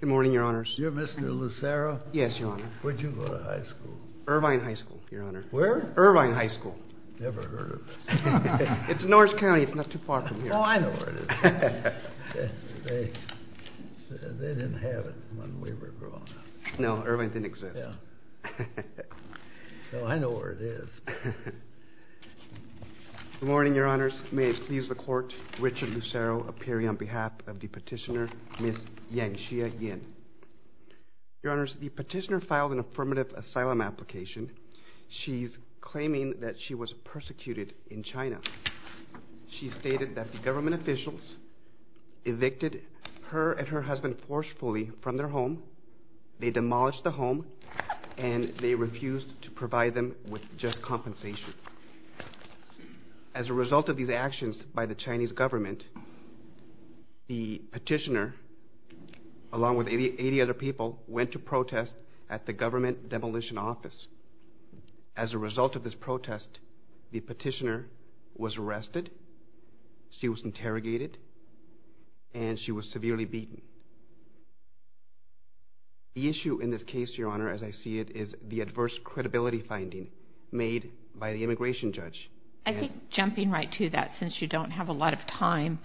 Good morning, Your Honors. You're Mr. Lucero? Yes, Your Honor. Where'd you go to high school? Irvine High School, Your Honor. Where? Irvine High School. Never heard of it. It's in Norris County. It's not too far from here. Oh, I know where it is. They didn't have it when we were growing up. No, Irvine didn't exist. Yeah. Well, I know where it is. Good morning, Your Honors. May it please the Court, Richard Lucero appearing on behalf of the petitioner, Ms. Yanxia Yin. Your Honors, the petitioner filed an affirmative asylum application. She's claiming that she was persecuted in China. She stated that the government officials evicted her and her husband forcefully from their compensation. As a result of these actions by the Chinese government, the petitioner, along with 80 other people, went to protest at the government demolition office. As a result of this protest, the petitioner was arrested, she was interrogated, and she was severely beaten. The issue in this case, Your Honor, as I see it, is the adverse credibility finding made by the immigration judge. I think, jumping right to that, since you don't have a lot of time,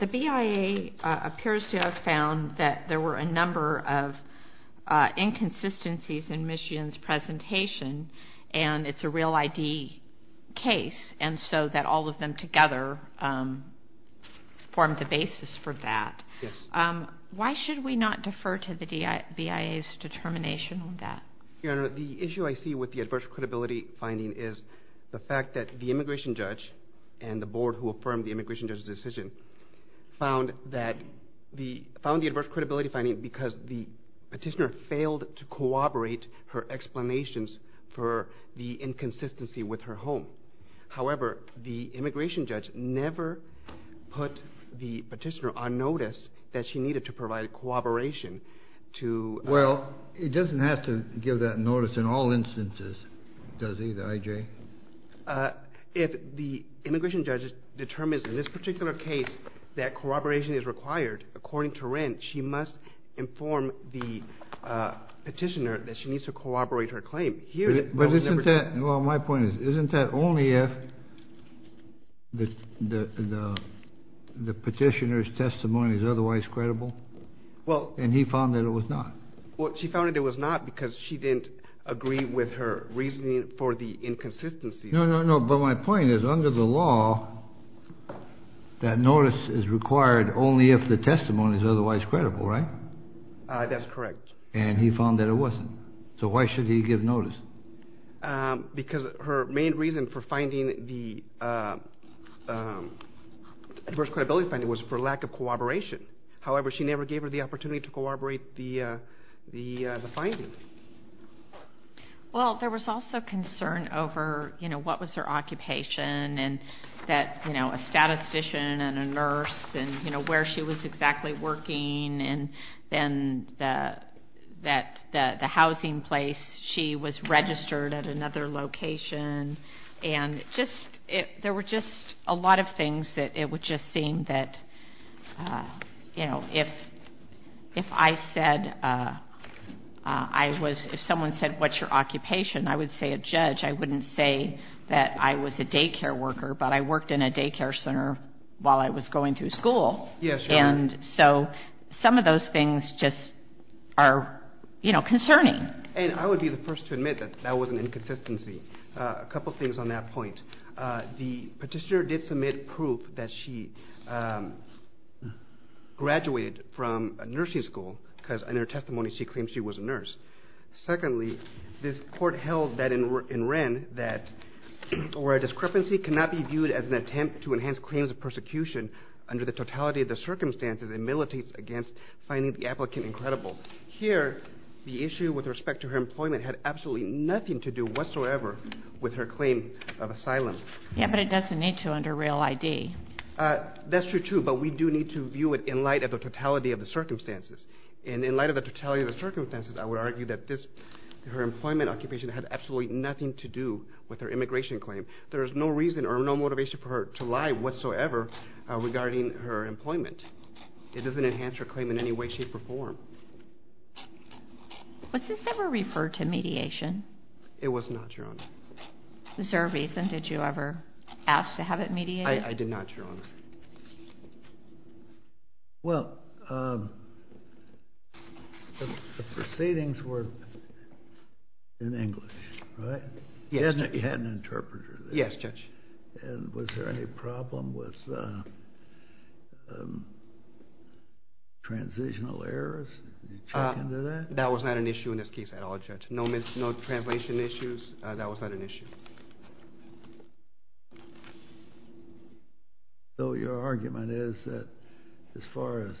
the BIA appears to have found that there were a number of inconsistencies in Ms. Yin's presentation, and it's a real ID case, and so that all of them together formed the basis for that. Why should we not defer to the BIA's determination on that? Your Honor, the issue I see with the adverse credibility finding is the fact that the immigration judge and the board who affirmed the immigration judge's decision found the adverse credibility finding because the petitioner failed to corroborate her explanations for the inconsistency with her home. However, the immigration judge never put the petitioner on notice that she needed to provide corroboration to... Well, it doesn't have to give that notice in all instances, does it, I.J.? If the immigration judge determines in this particular case that corroboration is required, according to Wren, she must inform the petitioner that she needs to corroborate her claim. But isn't that, well, my point is, isn't that only if the petitioner's testimony is otherwise credible, and he found that it was not? Well, she found that it was not because she didn't agree with her reasoning for the inconsistencies. No, no, no, but my point is, under the law, that notice is required only if the testimony is otherwise credible, right? That's correct. And he found that it wasn't, so why should he give notice? Because her main reason for finding the adverse credibility finding was for lack of corroboration. However, she never gave her the opportunity to corroborate the finding. Well, there was also concern over, you know, what was her occupation, and that, you know, a statistician and a nurse, and, you know, where she was exactly working, and then that the housing place, she was registered at another location, and just, there were just a lot of things that it would just seem that, you know, if I said, I was, if someone said, what's your occupation, I would say a judge. I wouldn't say that I was a daycare worker, but I worked in a daycare center while I was going through school. Yeah, sure. And so some of those things just are, you know, concerning. And I would be the first to admit that that was an inconsistency. A couple things on that point. The petitioner did submit proof that she graduated from a nursing school because in her testimony she claimed she was a nurse. Secondly, this court held that in Wren that, or a discrepancy cannot be viewed as an attempt to enhance claims of persecution under the totality of the circumstances and militates against finding the applicant incredible. Here, the issue with respect to her employment had absolutely nothing to do whatsoever with her claim of asylum. Yeah, but it doesn't need to under Real ID. That's true, too, but we do need to view it in light of the totality of the circumstances. And in light of the totality of the circumstances, I would argue that this, her employment occupation had absolutely nothing to do with her immigration claim. There is no reason or no motivation for her to lie whatsoever regarding her employment. It doesn't enhance her claim in any way, shape, or form. Was this ever referred to mediation? It was not, Your Honor. Was there a reason? Did you ever ask to have it mediated? I did not, Your Honor. Well, the proceedings were in English, right? Yes. You had an interpreter there. Yes, Judge. And was there any problem with transitional errors? Did you check into that? That was not an issue in this case at all, Judge. No translation issues, that was not an issue. So your argument is that as far as,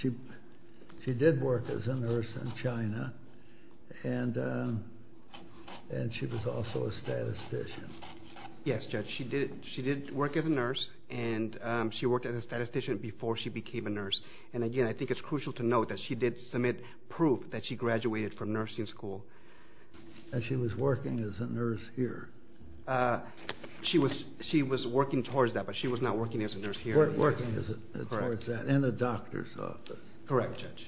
she did work as a nurse in China, and she was also a statistician. Yes, Judge. She did work as a nurse, and she worked as a statistician before she became a nurse. And again, I think it's crucial to note that she did submit proof that she graduated from nursing school. And she was working as a nurse here. She was working towards that, but she was not working as a nurse here. Working towards that, in a doctor's office. Correct, Judge.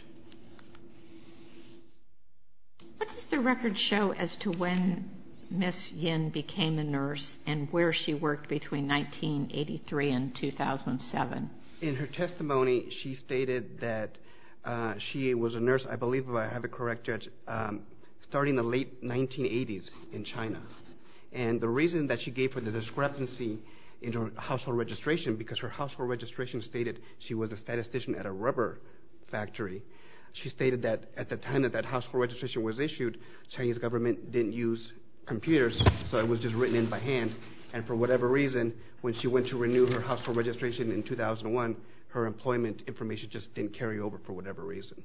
What does the record show as to when Ms. Yin became a nurse and where she worked between 1983 and 2007? In her testimony, she stated that she was a nurse, I believe if I have it correct, Judge, starting in the late 1980s in China. And the reason that she gave her the discrepancy in her household registration, because her household registration stated she was a statistician at a rubber factory. She stated that at the time that that household registration was issued, Chinese government didn't use computers, so it was just written in by hand. And for whatever reason, when she went to renew her household registration in 2001, her employment information just didn't carry over for whatever reason.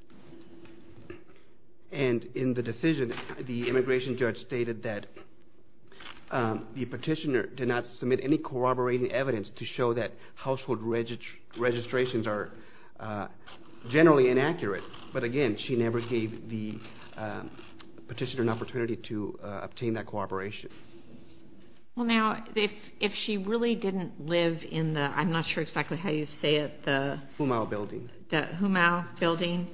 And in the decision, the immigration judge stated that the petitioner did not submit any corroborating evidence to show that household registrations are generally inaccurate. But again, she never gave the petitioner an opportunity to obtain that corroboration. Well now, if she really didn't live in the, I'm not sure exactly how you say it, the... Humau Building. The Humau Building,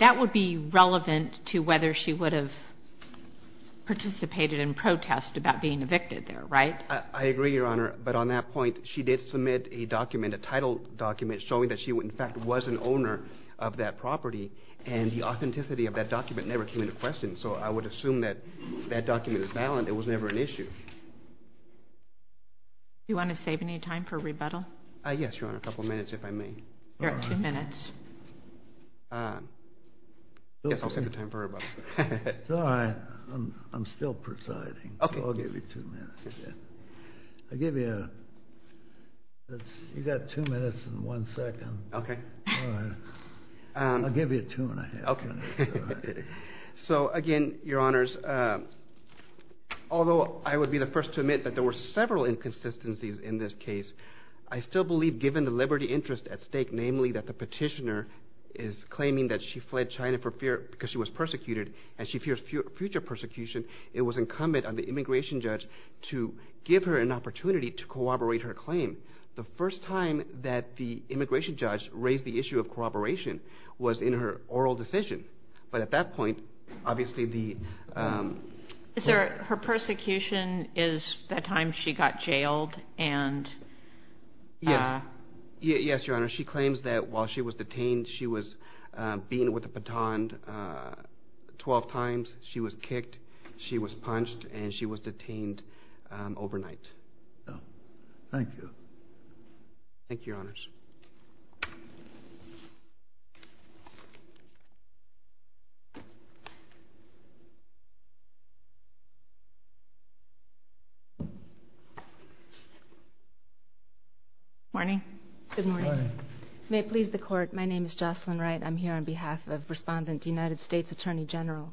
that would be relevant to whether she would have participated in protest about being evicted there, right? I agree, Your Honor, but on that point, she did submit a document, a title document, showing that she in fact was an owner of that property. And the authenticity of that document never came into question, so I would assume that that document is valid, it was never an issue. Do you want to save any time for rebuttal? Yes, Your Honor, a couple minutes if I may. You're at two minutes. I guess I'll save the time for rebuttal. It's all right, I'm still presiding, so I'll give you two minutes. I'll give you, you've got two minutes and one second. Okay. I'll give you two and a half minutes. So again, Your Honors, although I would be the first to admit that there were several inconsistencies in this case, I still believe given the liberty interest at stake, namely that the petitioner is claiming that she fled China because she was persecuted and she fears future persecution, it was incumbent on the immigration judge to give her an opportunity to corroborate her claim. The first time that the immigration judge raised the issue of corroboration was in her oral decision. But at that point, obviously the... Is there, her persecution is the time she got jailed and... Yes. Yes, Your Honor, she claims that while she was detained, she was beaten with a baton 12 times, she was kicked, she was punched, and she was detained overnight. Oh. Thank you. Thank you, Your Honors. Morning. Good morning. May it please the Court, my name is Jocelyn Wright. I'm here on behalf of Respondent, United States Attorney General.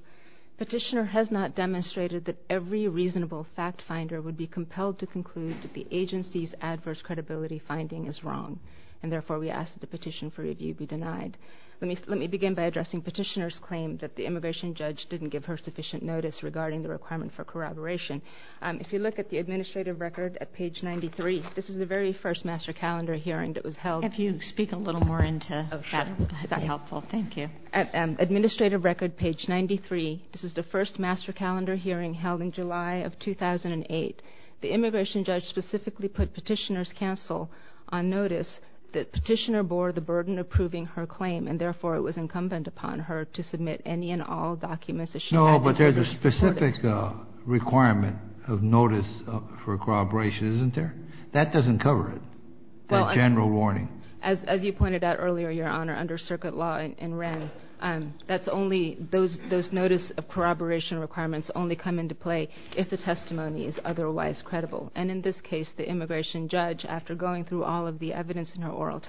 Petitioner has not demonstrated that every reasonable fact finder would be compelled to conclude that the agency's adverse credibility finding is wrong and therefore we ask that the petition for review be denied. Let me begin by addressing petitioner's claim that the immigration judge didn't give her sufficient notice regarding the requirement for corroboration. If you look at the administrative record at page 93, this is the very first master calendar hearing that was held... If you speak a little more into... Oh, sure. Is that helpful? Thank you. Administrative record, page 93, this is the first master calendar hearing held in July of 2008. The immigration judge specifically put petitioner's counsel on notice that petitioner bore the burden of proving her claim and therefore it was incumbent upon her to submit any and all documents that she had... No, but there's a specific requirement of notice for corroboration, isn't there? That doesn't cover it, the general warning. As you pointed out earlier, Your Honor, under circuit law in Wren, that's only... Those notice of corroboration requirements only come into play if the testimony is otherwise credible. And in this case, the immigration judge, after going through all of the evidence in her oral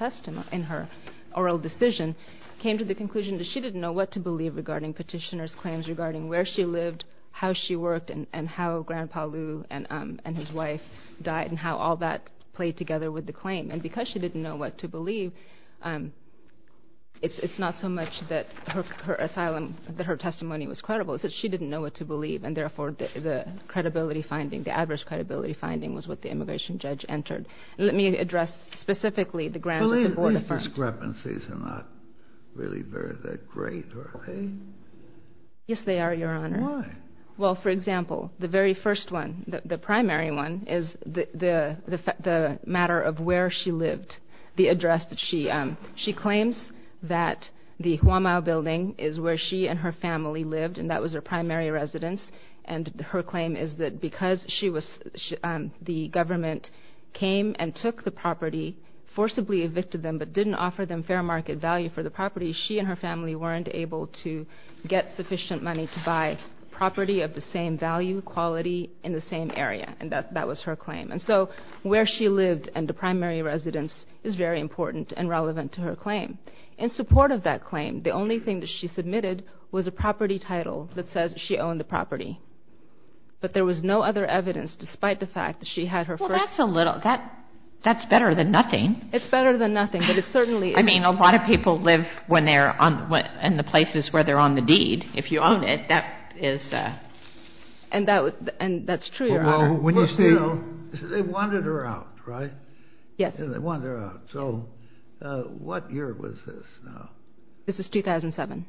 decision, came to the conclusion that she didn't know what to believe regarding petitioner's claims, regarding where she lived, how she worked, and how Grandpa Lou and his wife died, and how all that played together with the claim. And because she didn't know what to believe, it's not so much that her testimony was credible, it's that she didn't know what to believe and therefore the credibility finding, the adverse credibility finding was what the immigration judge entered. Let me address specifically the grounds that the board affirmed. These discrepancies are not really that great, are they? Yes, they are, Your Honor. Why? Well, for example, the very first one, the primary one, is the matter of where she lived. The address that she... She claims that the Huamau building is where she and her family lived, and that was her primary residence. And her claim is that because the government came and took the property, forcibly evicted them, but didn't offer them fair market value for the property, she and her family weren't able to get sufficient money to buy property of the same value, quality, in the same area, and that was her claim. And so where she lived and the primary residence is very important and relevant to her claim. In support of that claim, the only thing that she submitted was a property title that says she owned the property. But there was no other evidence, despite the fact that she had her first... Well, that's a little... that's better than nothing. It's better than nothing, but it certainly... I mean, a lot of people live in the places where they're on the deed. If you own it, that is... And that's true, Your Honor. They wanted her out, right? Yes. They wanted her out. So what year was this now? This is 2007.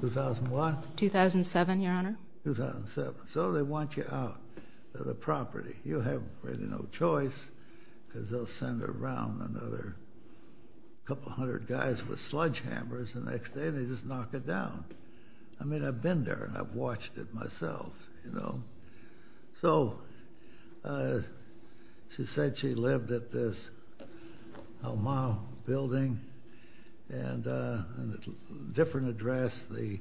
2001? 2007, Your Honor. 2007. So they want you out of the property. You have really no choice because they'll send around another couple hundred guys with sledgehammers the next day and they just knock it down. I mean, I've been there and I've watched it myself, you know. So she said she lived at this Omaha building and at a different address, the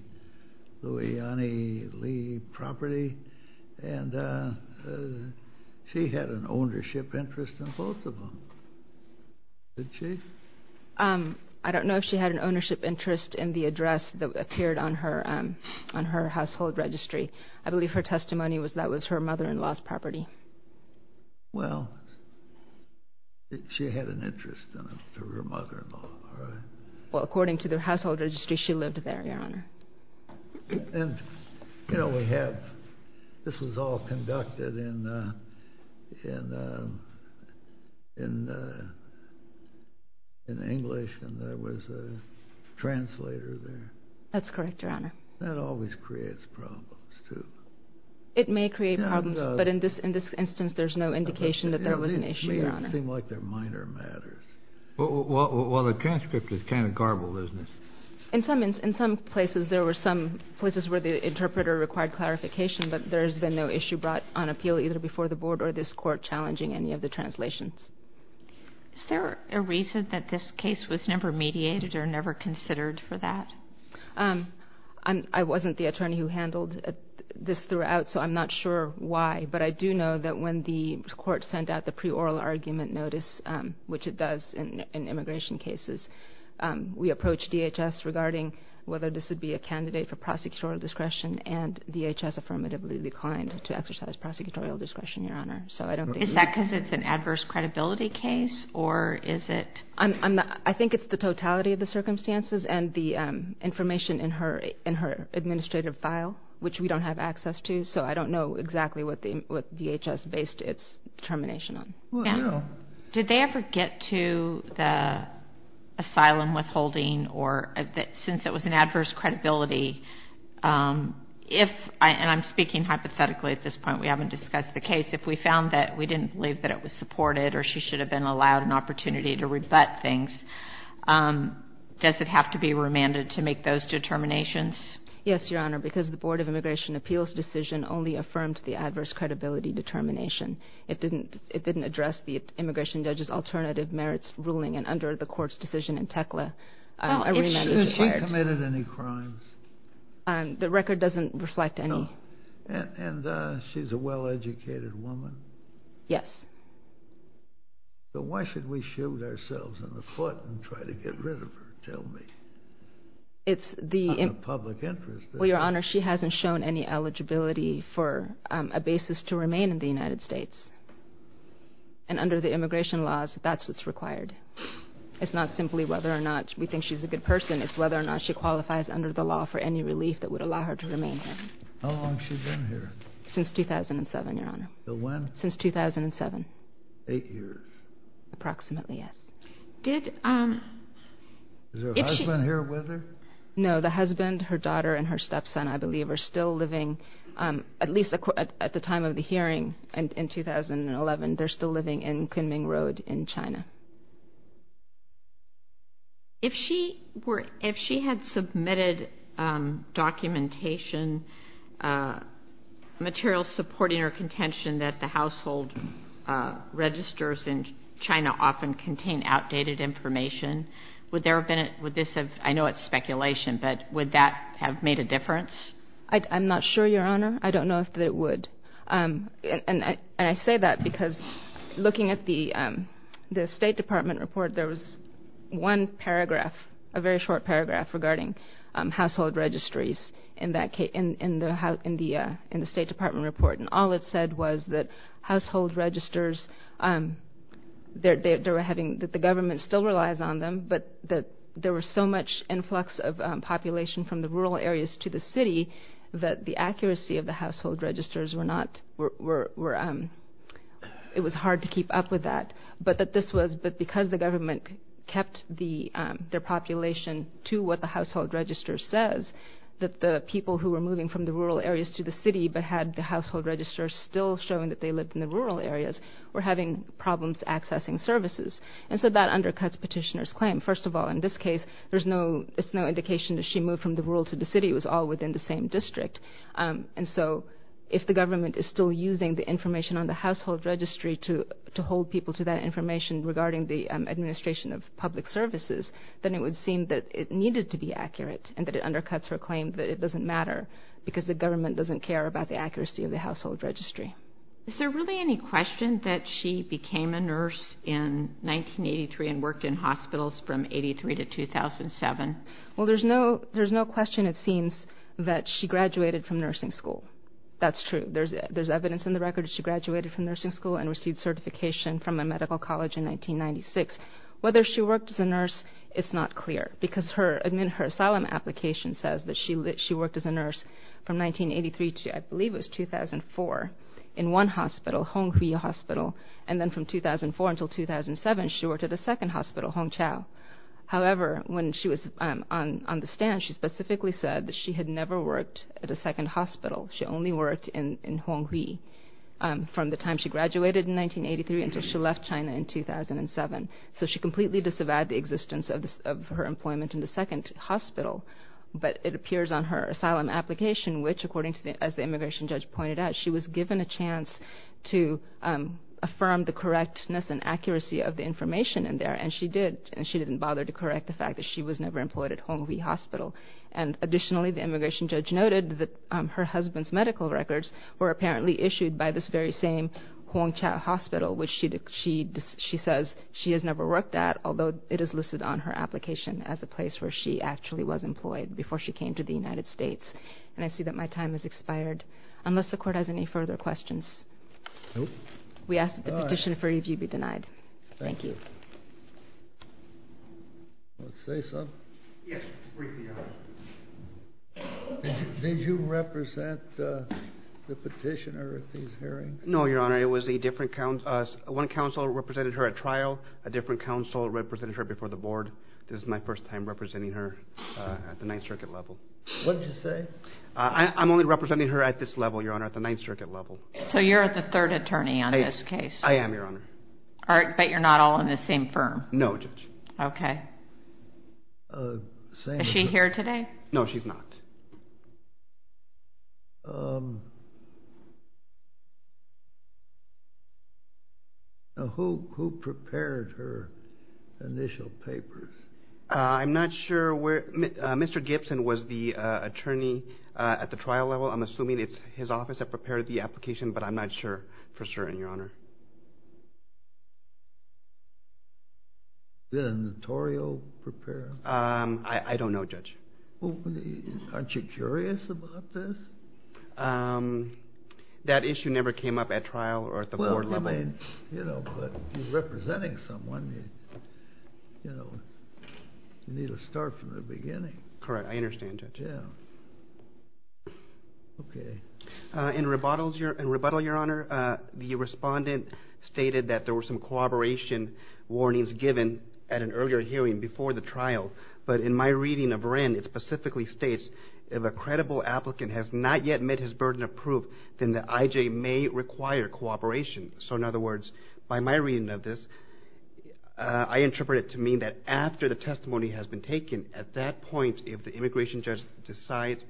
Louiani Lee property. And she had an ownership interest in both of them. Did she? I don't know if she had an ownership interest in the address that appeared on her household registry. I believe her testimony was that was her mother-in-law's property. Well, she had an interest in it through her mother-in-law, right? Well, according to the household registry, she lived there, Your Honor. And, you know, this was all conducted in English and there was a translator there. That's correct, Your Honor. That always creates problems, too. It may create problems, but in this instance there's no indication that there was an issue, Your Honor. It may seem like they're minor matters. Well, the transcript is kind of garbled, isn't it? In some places there were some places where the interpreter required clarification, but there's been no issue brought on appeal either before the board or this court challenging any of the translations. Is there a reason that this case was never mediated or never considered for that? I wasn't the attorney who handled this throughout, so I'm not sure why. But I do know that when the court sent out the pre-oral argument notice, which it does in immigration cases, we approached DHS regarding whether this would be a candidate for prosecutorial discretion and DHS affirmatively declined to exercise prosecutorial discretion, Your Honor. Is that because it's an adverse credibility case or is it? I think it's the totality of the circumstances and the information in her administrative file, which we don't have access to, so I don't know exactly what DHS based its determination on. Did they ever get to the asylum withholding or, since it was an adverse credibility, if, and I'm speaking hypothetically at this point, we haven't discussed the case, if we found that we didn't believe that it was supported or she should have been allowed an opportunity to rebut things, does it have to be remanded to make those determinations? Yes, Your Honor, because the Board of Immigration Appeals decision only affirmed the adverse credibility determination. It didn't address the immigration judge's alternative merits ruling and under the court's decision in Tekla, a remand is required. Has she committed any crimes? The record doesn't reflect any. And she's a well-educated woman? Yes. Then why should we shoot ourselves in the foot and try to get rid of her? Tell me. It's the... Out of public interest. Well, Your Honor, she hasn't shown any eligibility for a basis to remain in the United States. And under the immigration laws, that's what's required. It's not simply whether or not we think she's a good person, it's whether or not she qualifies under the law for any relief that would allow her to remain here. How long has she been here? Since 2007, Your Honor. So when? Since 2007. Eight years? Approximately, yes. Did... Is her husband here with her? No, the husband, her daughter, and her stepson, I believe, are still living, at least at the time of the hearing in 2011, they're still living in Kunming Road in China. If she were... If she had submitted documentation, material supporting her contention that the household registers in China often contain outdated information, would there have been... Would this have... I know it's speculation, but would that have made a difference? I'm not sure, Your Honor. I don't know if it would. And I say that because, looking at the State Department report, there was one paragraph, a very short paragraph, regarding household registries in the State Department report. And all it said was that household registers, they were having... That the government still relies on them, but that there was so much influx of population from the rural areas to the city that the accuracy of the household registers were not... It was hard to keep up with that. But that this was... But because the government kept their population to what the household register says, that the people who were moving from the rural areas to the city but had the household register still showing that they lived in the rural areas were having problems accessing services. And so that undercuts Petitioner's claim. First of all, in this case, there's no... It's no indication that she moved from the rural to the city. It was all within the same district. And so if the government is still using the information on the household registry to hold people to that information regarding the administration of public services, then it would seem that it needed to be accurate and that it undercuts her claim that it doesn't matter because the government doesn't care about the accuracy of the household registry. Is there really any question that she became a nurse in 1983 and worked in hospitals from 83 to 2007? Well, there's no question, it seems, that she graduated from nursing school. That's true. There's evidence in the record that she graduated from nursing school and received certification from a medical college in 1996. Whether she worked as a nurse, it's not clear because her asylum application says that she worked as a nurse from 1983 to, I believe it was 2004, in one hospital, Honghui Hospital. And then from 2004 until 2007, she worked at a second hospital, Hongqiao. However, when she was on the stand, she specifically said that she had never worked at a second hospital. She only worked in Honghui from the time she graduated in 1983 until she left China in 2007. So she completely disavowed the existence of her employment in the second hospital. But it appears on her asylum application which, as the immigration judge pointed out, she was given a chance to affirm the correctness and accuracy of the information in there. And she didn't bother to correct the fact that she was never employed at Honghui Hospital. Additionally, the immigration judge noted that her husband's medical records were apparently issued by this very same Hongqiao Hospital, which she says she has never worked at, although it is listed on her application as a place where she actually was employed before she came to the United States. And I see that my time has expired. Unless the Court has any further questions. We ask that the petition for review be denied. Thank you. Say something? Yes. Did you represent the petitioner at these hearings? No, Your Honor. One counsel represented her at trial. A different counsel represented her before the Board. This is my first time representing her at the Ninth Circuit level. What did you say? I'm only representing her at this level, Your Honor, at the Ninth Circuit level. So you're the third attorney on this case? I am, Your Honor. But you're not all in the same firm? No, Judge. Is she here today? No, she's not. Who prepared her initial papers? I'm not sure. Mr. Gibson was the attorney at the trial level. I'm assuming it's his office that prepared the application, but I'm not sure for certain, Your Honor. Did a notarial prepare? I don't know, Judge. Aren't you curious about this? That issue never came up at trial or at the Board level. But you're representing someone. You need to start from the beginning. Correct. I understand, Judge. In rebuttal, Your Honor, the respondent stated that there were some corroboration warnings given at an earlier hearing before the trial. But in my reading of Wren, it specifically states, if a credible applicant has not yet met his burden of proof, then the IJ may require cooperation. So in other words, by my reading of this, I interpret it to mean that after the testimony has been taken, at that point if the immigration judge decides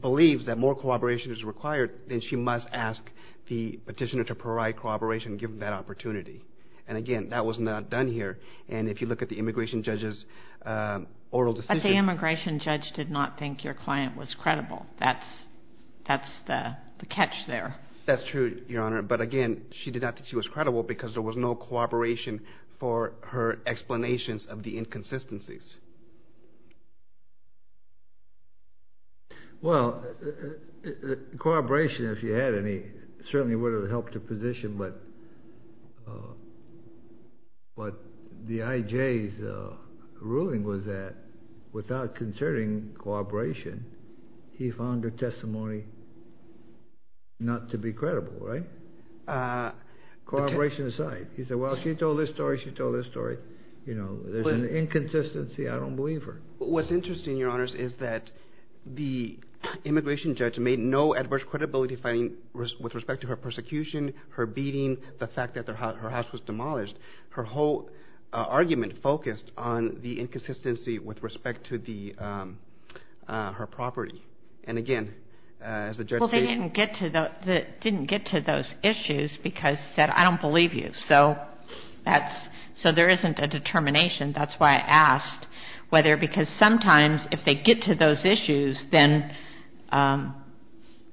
believes that more cooperation is required, then she must ask the petitioner to provide cooperation given that opportunity. And again, that was not done here. And if you look at the immigration judge's oral decision... But the immigration judge did not think your client was credible. That's the catch there. That's true, Your Honor. But again, she did not think she was credible because there was no cooperation for her explanations of the inconsistencies. Well, cooperation, if you had any, certainly would have helped the position. But the IJ's ruling was that without concerning cooperation, he found her testimony not to be credible, right? Cooperation aside, he said, well, she told this story, she told this story. You know, there's an inconsistency. I don't believe her. What's interesting, Your Honors, is that the immigration judge made no adverse credibility finding with respect to her persecution, her beating, the fact that her house was demolished. Her whole argument focused on the inconsistency with respect to her property. And again, as the judge stated... Well, they didn't get to those issues because they said, I don't believe you. So there isn't a determination. That's why I asked whether because sometimes if they get to those issues, then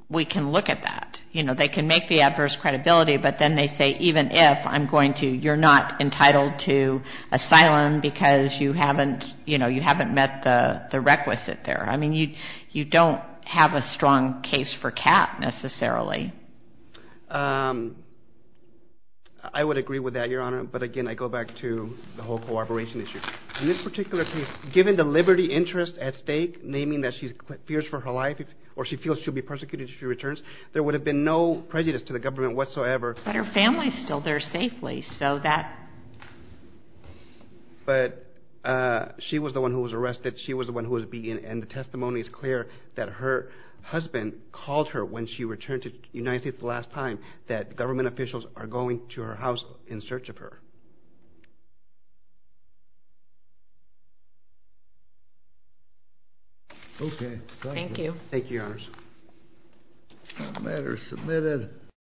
we can look at that. You know, they can make the adverse credibility, but then they say even if, I'm going to, you're not entitled to asylum because you haven't met the requisite there. I mean, you don't have a strong case for cap, necessarily. I would agree with that, Your Honor, but again, I go back to the whole cooperation issue. In this particular case, given the liberty interest at stake, naming that she fears for her life or she feels she'll be persecuted if she returns, there would have been no prejudice to the government whatsoever. But her family is still there safely, so that... But she was the one who was arrested. She was the one who was beaten, and the testimony is clear that her husband called her when she returned to the United States the last time, that government officials are going to her house in search of her. Okay. Thank you. Thank you, Your Honor. The matter is submitted.